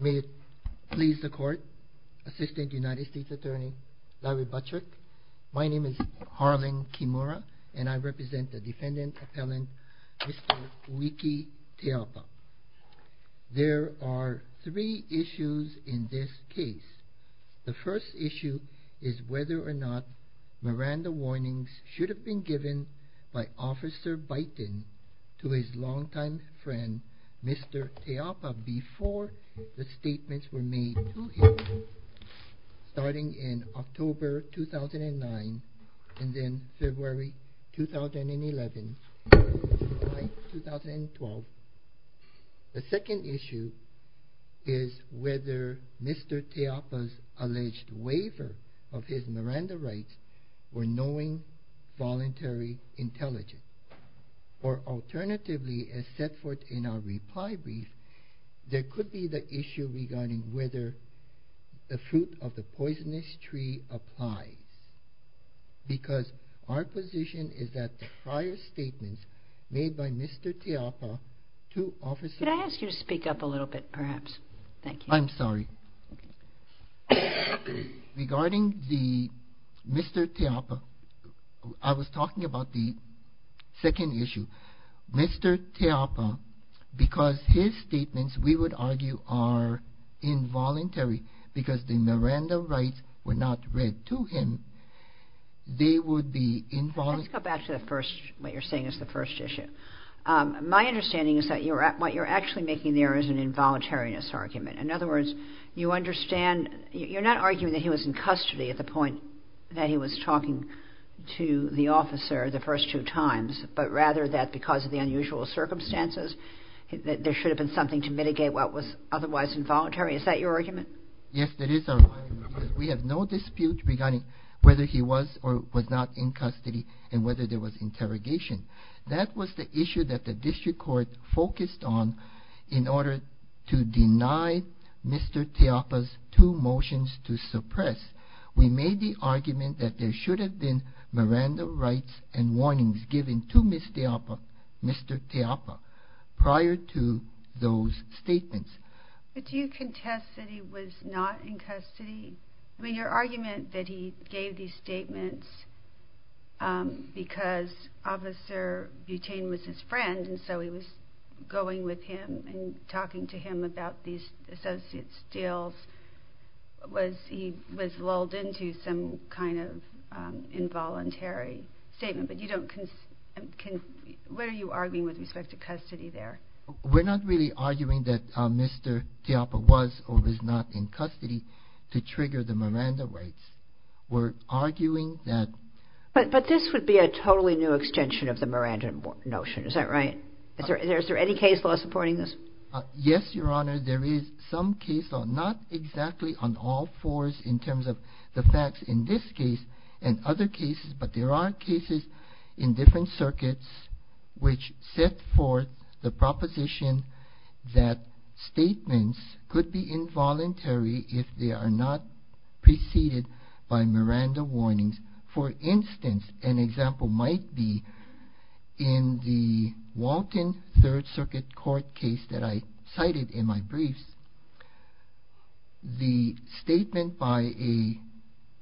May it please the court, Assistant United States Attorney Larry Buttrick, my name is Harlan Kimura and I represent the defendant appellant Mr. Uiki Teaupa. There are three issues in this case. The first issue is whether or not Miranda warnings should have been given by Officer Byton to his longtime friend Mr. Teaupa before the statements were made to him, starting in October 2009 and then February 2011, July 2012. The second issue is whether Mr. Teaupa's alleged waiver of his Miranda rights were knowing, voluntary, intelligent. Or alternatively, as set forth in our reply brief, there could be the issue regarding whether the fruit of the poisonous tree applies. Because our position is that the prior statements made by Mr. Teaupa to Officer... Could I ask you to move up a little bit perhaps? Thank you. I'm sorry. Regarding the Mr. Teaupa, I was talking about the second issue. Mr. Teaupa, because his statements we would argue are involuntary because the Miranda rights were not read to him, they would be involuntary... Let's go back to the first, what you're saying is the first issue. My involuntariness argument. In other words, you understand, you're not arguing that he was in custody at the point that he was talking to the officer the first two times, but rather that because of the unusual circumstances, that there should have been something to mitigate what was otherwise involuntary. Is that your argument? Yes, that is our argument. We have no dispute regarding whether he was or was not in custody and whether there was interrogation. That was the issue that the to deny Mr. Teaupa's two motions to suppress. We made the argument that there should have been Miranda rights and warnings given to Mr. Teaupa prior to those statements. But do you contest that he was not in custody? I mean, your argument that he gave these statements because Officer Butain was his friend and so he was going with him and talking to him about these associate's deals, was, he was lulled into some kind of involuntary statement. But you don't, what are you arguing with respect to custody there? We're not really arguing that Mr. Teaupa was or was not in custody to trigger the Miranda rights. We're arguing that... But this would be a totally new extension of the Miranda notion, is that right? Is there any case law supporting this? Yes, Your Honor, there is some case law, not exactly on all fours in terms of the facts in this case and other cases, but there are cases in different circuits which set forth the proposition that statements could be circuit court case that I cited in my briefs, the statement by a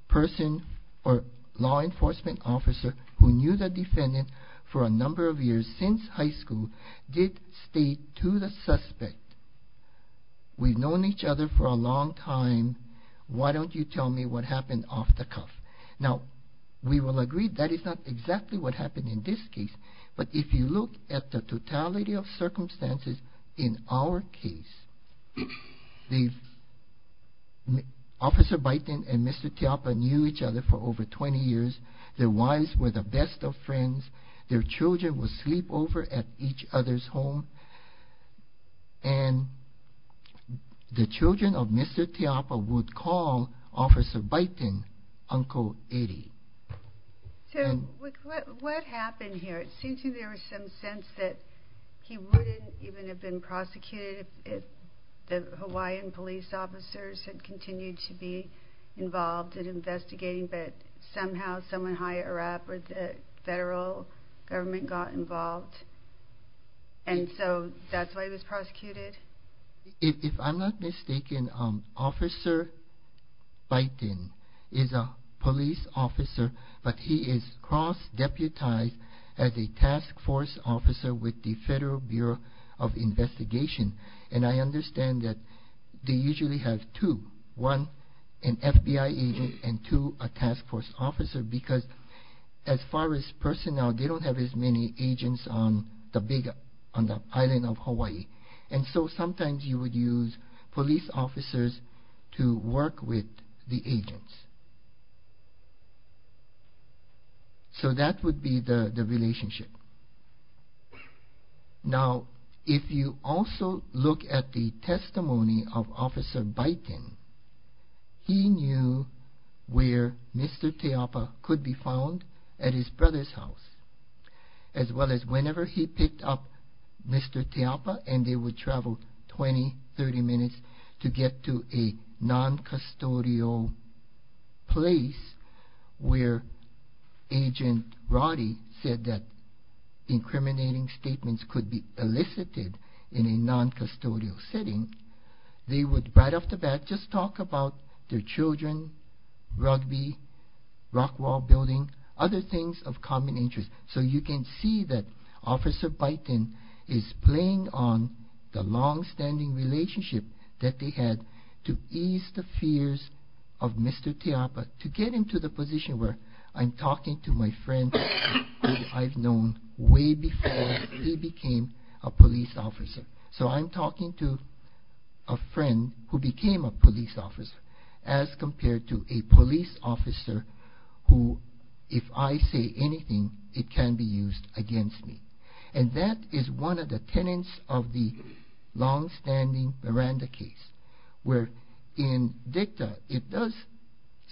person or law enforcement officer who knew the defendant for a number of years since high school did state to the suspect, we've known each other for a long time, why don't you tell me what happened off the circumstances in our case. Officer Bighton and Mr. Teaupa knew each other for over 20 years, their wives were the best of friends, their children would sleep over at each other's home, and the children of Mr. Teaupa would call Officer Bighton, Uncle Eddie. So what happened here? It seems to me there was some sense that he wouldn't even have been prosecuted if the Hawaiian police officers had continued to be involved in investigating, but somehow someone higher up or the federal government got involved, and so that's why he was prosecuted? If I'm not mistaken, he was recognized as a task force officer with the Federal Bureau of Investigation, and I understand that they usually have two, one, an FBI agent, and two, a task force officer, because as far as personnel, they don't have as many agents on the island of Hawaii, and so sometimes you would use police officers to work with the relationship. Now, if you also look at the testimony of Officer Bighton, he knew where Mr. Teaupa could be found at his brother's house, as well as whenever he said that incriminating statements could be elicited in a non-custodial setting, they would, right off the bat, just talk about their children, rugby, rock wall building, other things of common interest. So you can see that Officer Bighton is playing on the long-standing relationship that they had to ease the fears of Mr. Teaupa, to get him to the neighborhood I've known way before he became a police officer. So I'm talking to a friend who became a police officer, as compared to a police officer who, if I say anything, it can be used against me. And that is one of the tenets of the long-standing Miranda case, where in dicta, it does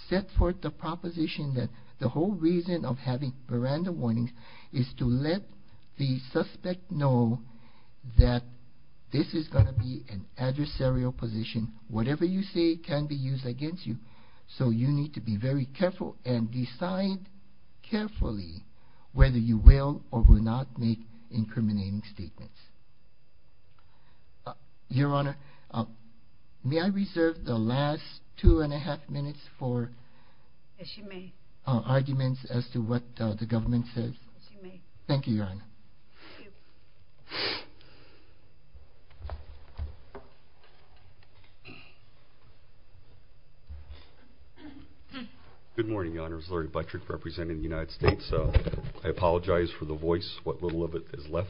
set forth the proposition that the whole reason of having Miranda warnings is to let the suspect know that this is going to be an incriminating statement. Your Honor, may I reserve the last two and a half minutes for arguments as to what the government says? Thank you, Your Honor. Good morning, Your Honors. Larry Buttrick, representing the United States. I apologize for the voice, what little of it is left.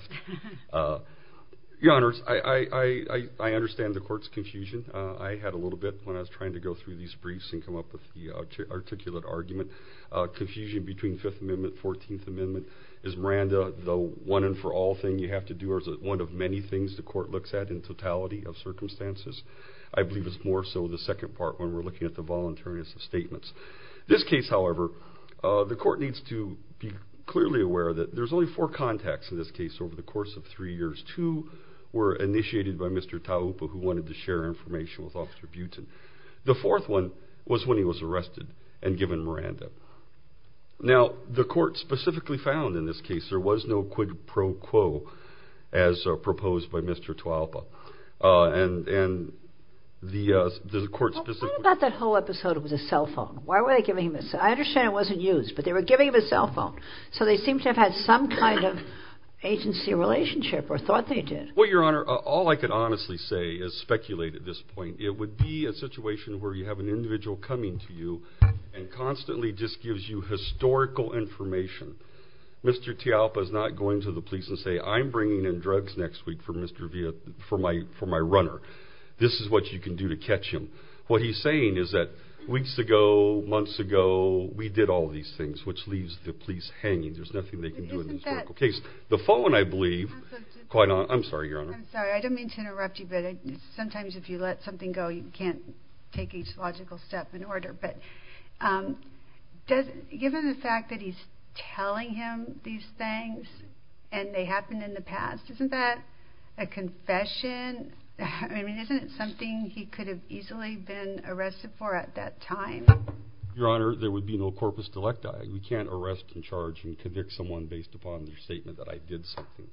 Your Honors, I understand the Court's confusion. I had a little bit when I was trying to go through these briefs and come up with the articulate argument. Confusion between Fifth Amendment, Fourteenth Amendment. Is Miranda the one and for all thing you have to do, or is it one of many things the Court looks at in totality of circumstances? I believe it's more so the second part when we're looking at the voluntariness of statements. This case, however, the Court needs to be clearly aware that there's only four contacts in this case over the course of three years. Two were initiated by Mr. Taupa, who wanted to share information with Officer Butin. The fourth one was when he was arrested and given Miranda. Now, the Court specifically found in this case there was no quid pro quo as proposed by Mr. Taupa. What about that whole episode of the cell phone? Why were they giving him a cell phone? I understand it wasn't used, but they were giving him a cell phone. So they seem to have had some kind of agency relationship, or thought they did. Well, Your Honor, all I can honestly say is speculate at this point. It would be a situation where you have an individual coming to you and constantly just gives you historical information. Mr. Taupa is not going to the police and saying, I'm bringing in drugs next week for my runner. This is what you can do to catch him. What he's saying is that weeks ago, months ago, we did all these things, which leaves the police hanging. There's nothing they can do in this case. The phone, I believe... I'm sorry, Your Honor. I'm sorry. I didn't mean to interrupt you, but sometimes if you let something go, you can't take each logical step in order. But given the fact that he's telling him these things, and they happened in the past, isn't that a confession? I mean, isn't it something he could have easily been arrested for at that time? Your Honor, there would be no corpus delecti. We can't arrest and charge and convict someone based upon their statement that I did something.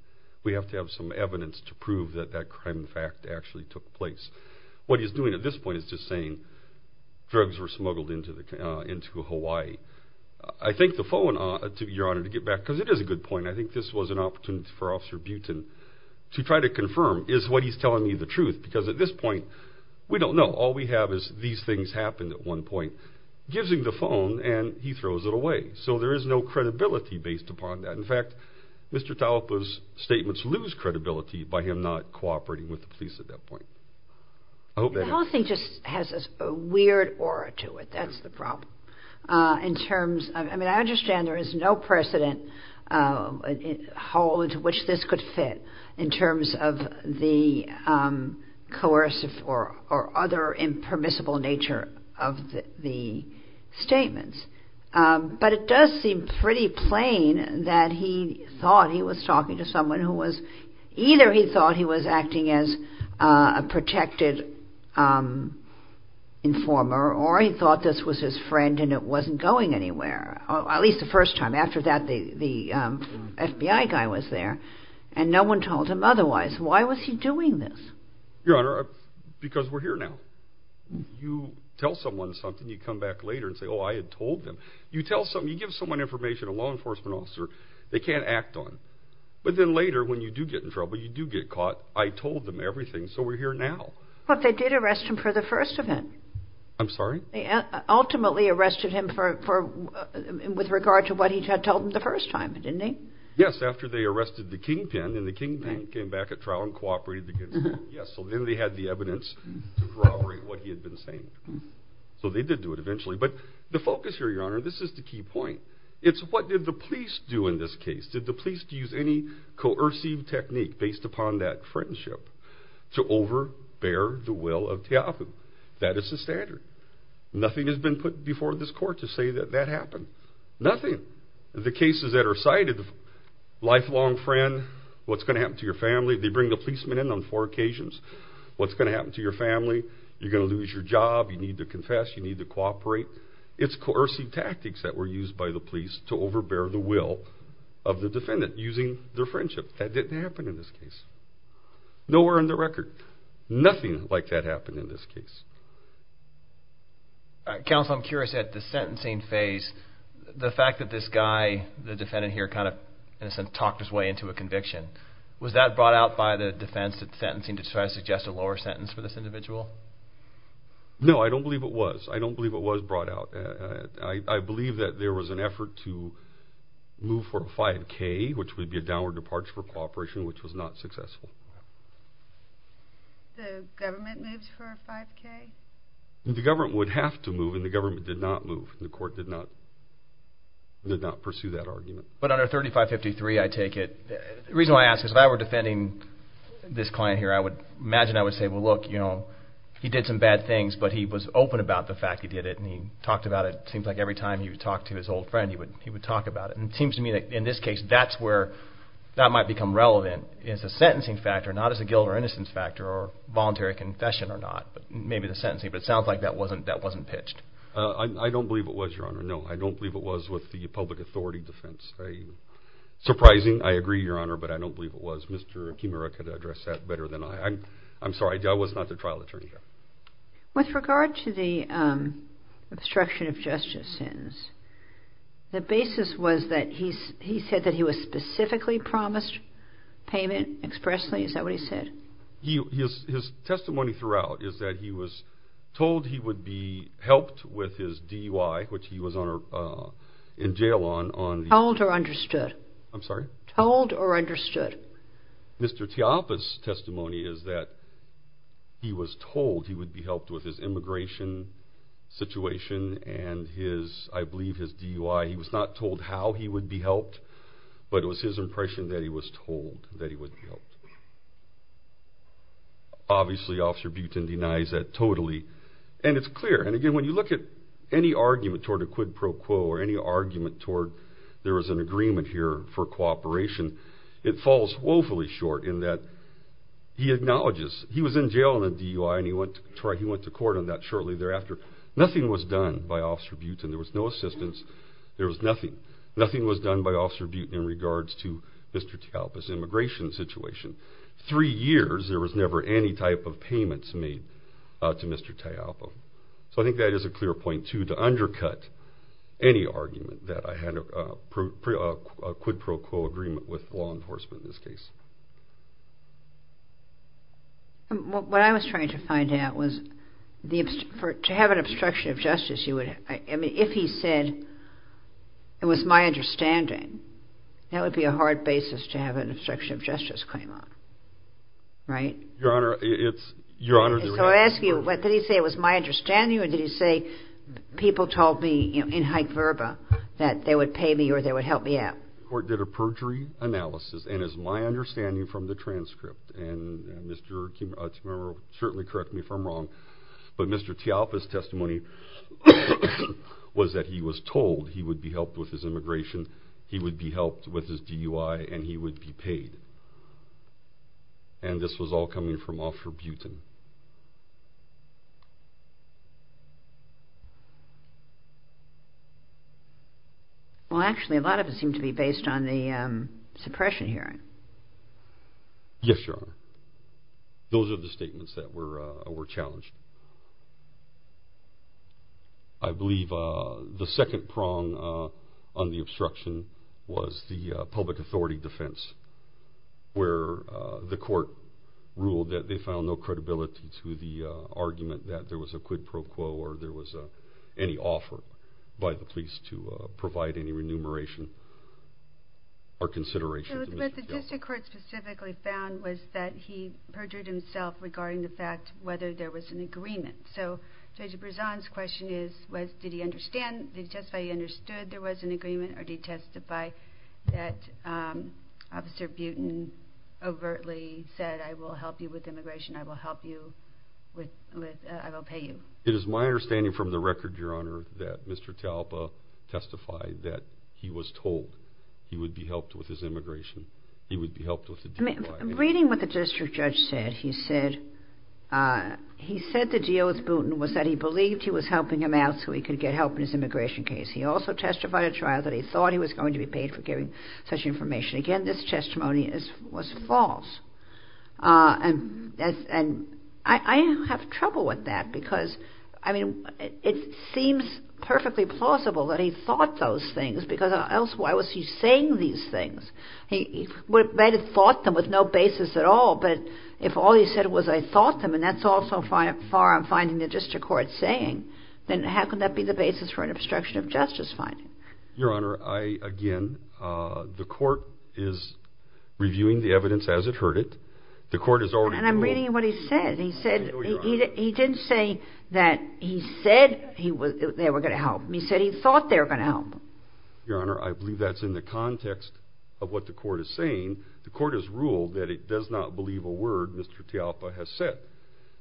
We have to have some evidence to prove that that crime in fact actually took place. What he's doing at this point is just saying drugs were smuggled into Hawaii. I think the phone... Your Honor, to get back, because it is a good point, I think this was an opportunity for Officer Butin to try to confirm, is what he's telling me the truth. Because at this point, we don't know. All we have is these things happened at one point. Gives him the phone, and he throws it away. So there is no credibility based upon that. In fact, Mr. Taupo's statements lose credibility by him not cooperating with the police at that point. I hope that helps. I mean, I understand there is no precedent to which this could fit in terms of the coercive or other impermissible nature of the statements. But it does seem pretty plain that he thought he was talking to someone who was... Either he thought he was acting as a protected... Informer, or he thought this was his friend and it wasn't going anywhere. At least the first time. After that, the FBI guy was there, and no one told him otherwise. Why was he doing this? Your Honor, because we're here now. You tell someone something, you come back later and say, oh, I had told them. You tell someone, you give someone information, a law enforcement officer, they can't act on. But then later, when you do get in trouble, you do get caught. I told them everything, so we're here now. But they did arrest him for the first time. I'm sorry? They ultimately arrested him with regard to what he had told them the first time, didn't they? Yes, after they arrested the kingpin, and the kingpin came back at trial and cooperated. So then they had the evidence to corroborate what he had been saying. So they did do it eventually. But the focus here, Your Honor, this is the key point. It's what did the police do in this case? Did the police use any coercive technique based upon that friendship to overbear the will of Te'ahu? That is the standard. Nothing has been put before this court to say that that happened. Nothing. The cases that are cited, lifelong friend, what's going to happen to your family? They bring the policeman in on four occasions. What's going to happen to your family? You're going to lose your job, you need to confess, you need to cooperate. It's coercive tactics that were used by the police to overbear the will of the defendant using their friendship. That didn't happen in this case. Nowhere in the record. Nothing like that happened in this case. Counsel, I'm curious at the sentencing phase, the fact that this guy, the defendant here, kind of talked his way into a conviction. Was that brought out by the defense at sentencing to try to suggest a lower sentence for this individual? No, I don't believe it was. I don't believe it was brought out. I believe that there was an effort to move for a 5K, which would be a downward departure for cooperation, which was not successful. The government moved for a 5K? The government would have to move, and the government did not move. The court did not pursue that argument. But under 3553, I take it, the reason I ask is if I were defending this client here, I would imagine I would say, well look, you know, he did some bad things, but he was open about the fact that he did it, and he talked about it. It seems like every time he would talk to his old friend, he would talk about it. And it seems to me that in this case, that's where that might become relevant is the sentencing factor, not as a guilt or innocence factor or voluntary confession or not. Maybe the sentencing, but it sounds like that wasn't pitched. I don't believe it was, Your Honor. No, I don't believe it was with the public authority defense. Surprising, I agree, Your Honor, but I don't believe it was. Mr. Kimura could address that better than I. I'm sorry, I was not the trial attorney here. With regard to the obstruction of justice sentence, the basis was that he said that he was specifically promised payment expressly, is that what he said? His testimony throughout is that he was told he would be helped with his DUI, which he was in jail on. Told or understood? I'm sorry? Told or understood? Mr. Teapa's testimony is that he was told he would be helped with his immigration situation and his, I believe, his DUI. He was not told how he would be helped, but it was his impression that he was told that he would be helped. Obviously, Officer Buten denies that totally, and it's clear. And again, when you look at any argument toward a quid pro quo or any argument toward there is an agreement here for cooperation, it falls woefully short in that he acknowledges he was in jail on a DUI and he went to court on that shortly thereafter. Nothing was done by Officer Buten. There was no assistance. There was nothing. Nothing was done by Officer Buten in regards to Mr. Teapa's immigration situation. Three years, there was never any type of payments made to Mr. Teapa. So I think that is a clear point, too, to undercut any argument that I had a quid pro quo agreement with law enforcement in this case. What I was trying to find out was to have an obstruction of justice, if he said it was my understanding, that would be a hard basis to have an obstruction of justice claim on, right? Your Honor, it's... So I ask you, did he say it was my understanding, or did he say people told me in haec verba that they would pay me or they would help me out? The court did a perjury analysis, and it's my understanding from the transcript, and Mr. Kimura will certainly correct me if I'm wrong, but Mr. Teapa's testimony was that he was told he would be helped with his immigration, he would be helped with his DUI, and he would be paid. And this was all coming from Officer Buten. Well, actually, a lot of it seemed to be based on the suppression hearing. Yes, Your Honor. Those are the statements that were challenged. I believe the second prong on the obstruction was the public authority defense, where the court ruled that they found no credibility to the argument that there was a quid pro quo or there was any offer by the police to provide any remuneration or consideration. So what the district court specifically found was that he perjured himself regarding the fact whether there was an agreement. So Judge Brezan's question is, was, did he understand, did he testify he understood there was an agreement, or did he testify that Officer Buten overtly said, I will help you with immigration, I will help you with, I will pay you? It is my understanding from the record, Your Honor, that Mr. Teapa testified that he was told he would be helped with his immigration, he would be helped with his DUI. I mean, reading what the district judge said, he said, he said the deal with Buten was that he believed he was helping him out so he could get help in his immigration case. He also testified at trial that he thought he was going to be paid for giving such information. Again, this testimony was false. And I have trouble with that, because, I mean, it seems perfectly plausible that he thought those things, because else why was he saying these things? He might have thought them with no basis at all, but if all he said was I thought them, and that's all so far I'm finding the district court saying, then how can that be the basis for an obstruction of justice finding? Your Honor, I, again, the court is reviewing the evidence as it heard it, the court has already ruled... And I'm reading what he said, he said, he didn't say that he said they were going to help him, he said he thought they were going to help him. Your Honor, I believe that's in the context of what the court is saying. The court has ruled that it does not believe a word Mr. Teapa has said.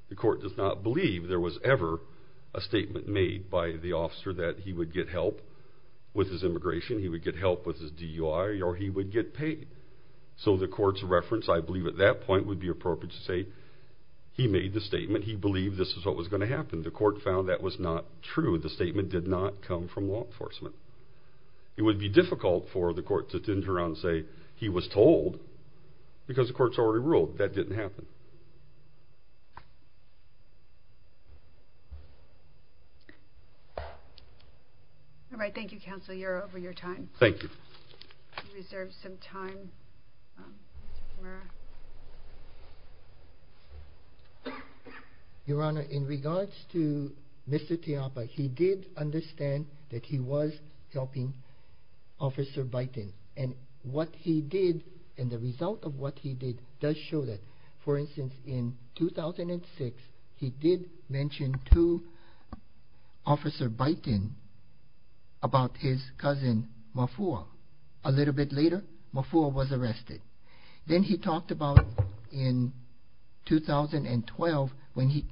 The court does not believe there was ever a statement made by the officer that he would get help with his immigration, he would get help with his DUI, or he would get paid. So the court's reference, I believe at that point, would be appropriate to say he made the statement, he believed this is what was going to happen. The court found that was not true. The statement did not come from law enforcement. It would be difficult for the court to turn around and say he was told, because the court's already ruled that didn't happen. Thank you. All right, thank you counsel, you're over your time. Thank you. We reserve some time. Your Honor, in regards to Mr. Teapa, he did understand that he was helping Officer Bighton. And what he did, and the result of what he did, does show that. For instance, in 2006, he did mention to Officer Bighton about his cousin Mafua. A little bit later, Mafua was arrested. Then he talked about in 2012, when he,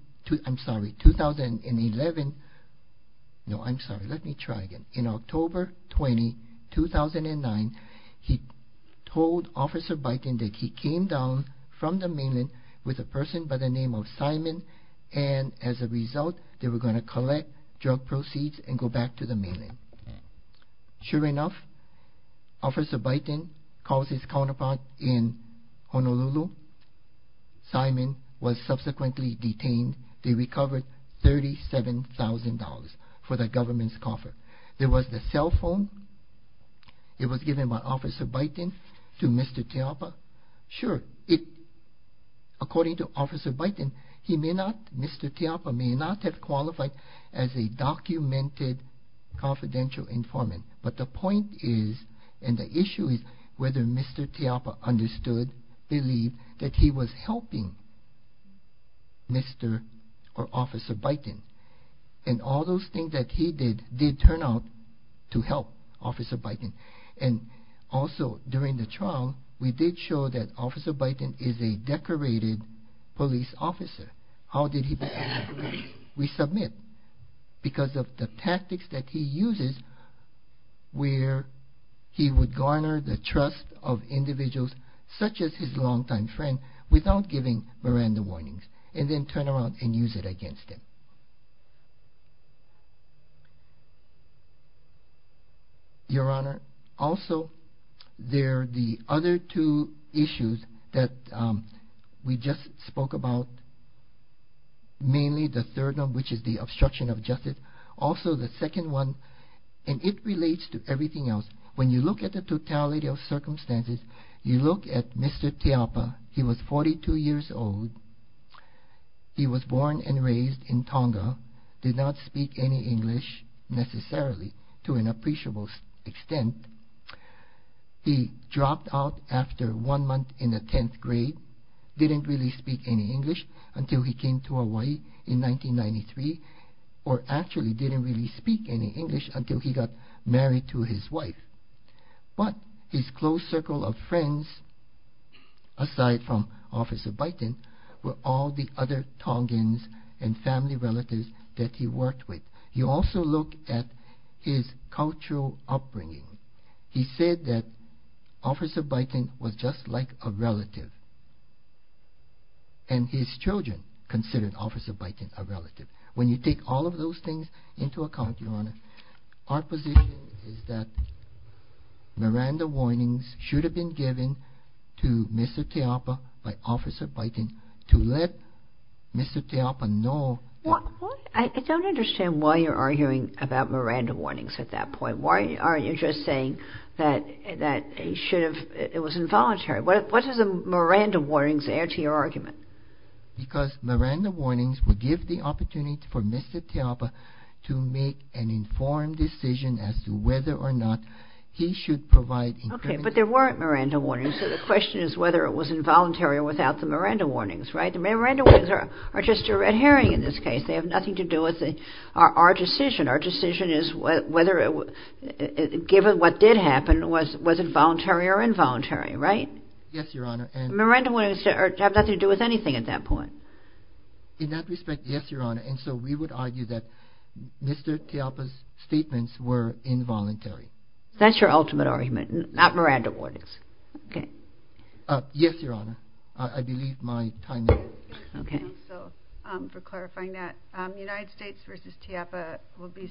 I'm sorry, 2011, no I'm sorry, let me try again. In October 20, 2009, he told Officer Bighton that he came down from the mainland with a person by the name of Simon, and as a result, they were going to collect drug proceeds and go back to the mainland. Sure enough, Officer Bighton calls his counterpart in Honolulu. Simon was subsequently detained. They recovered $37,000 for the government's coffer. There was the cell phone. It was given by Officer Bighton to Mr. Teapa. Sure, it, according to Officer Bighton, he may not, Mr. Teapa may not have qualified as a documented confidential informant. But the point is, and the issue is, whether Mr. Teapa understood, believed that he was helping Mr. or Officer Bighton. And all those things that he did, did turn out to help Officer Bighton. And also, during the trial, we did show that Officer Bighton is a decorated police officer. How did he behave? We submit. Because of the tactics that he uses, where he would garner the trust of individuals, such as his longtime friend, without giving Miranda warnings, and then turn around and use it against him. Your Honor, also, there are the other two issues that we just spoke about, mainly the third one, which is the obstruction of justice. Also, the second one, and it relates to everything else. When you look at the totality of circumstances, you look at Mr. Teapa. He was 42 years old. He was born and raised in Tonga, did not speak any English, necessarily, to an appreciable extent. He dropped out after one month in the 10th grade, didn't really speak any English until he came to Hawaii in 1993, or actually didn't really speak any English until he got married to his wife. But his close circle of friends, aside from Officer Bighton, were all the other Tongans and family relatives that he worked with. You also look at his cultural upbringing. He said that Officer Bighton was just like a relative, and his children considered Officer Bighton a relative. When you take all of those things into account, Your Honor, our position is that Miranda warnings should have been given to Mr. Teapa by Officer Bighton to let Mr. Teapa know... I don't understand why you're arguing about Miranda warnings at that point. Why aren't you just saying that it was involuntary? What do the Miranda warnings add to your argument? Because Miranda warnings would give the opportunity for Mr. Teapa to make an informed decision as to whether or not he should provide... Okay, but there weren't Miranda warnings, so the question is whether it was involuntary or without the Miranda warnings, right? The Miranda warnings are just a red herring in this case. They have nothing to do with our decision. Our decision is whether, given what did happen, was it voluntary or involuntary, right? Yes, Your Honor, and... In that respect, yes, Your Honor, and so we would argue that Mr. Teapa's statements were involuntary. That's your ultimate argument, not Miranda warnings. Okay. Yes, Your Honor, I believe my time is up. Okay. So, for clarifying that, United States versus Teapa would be...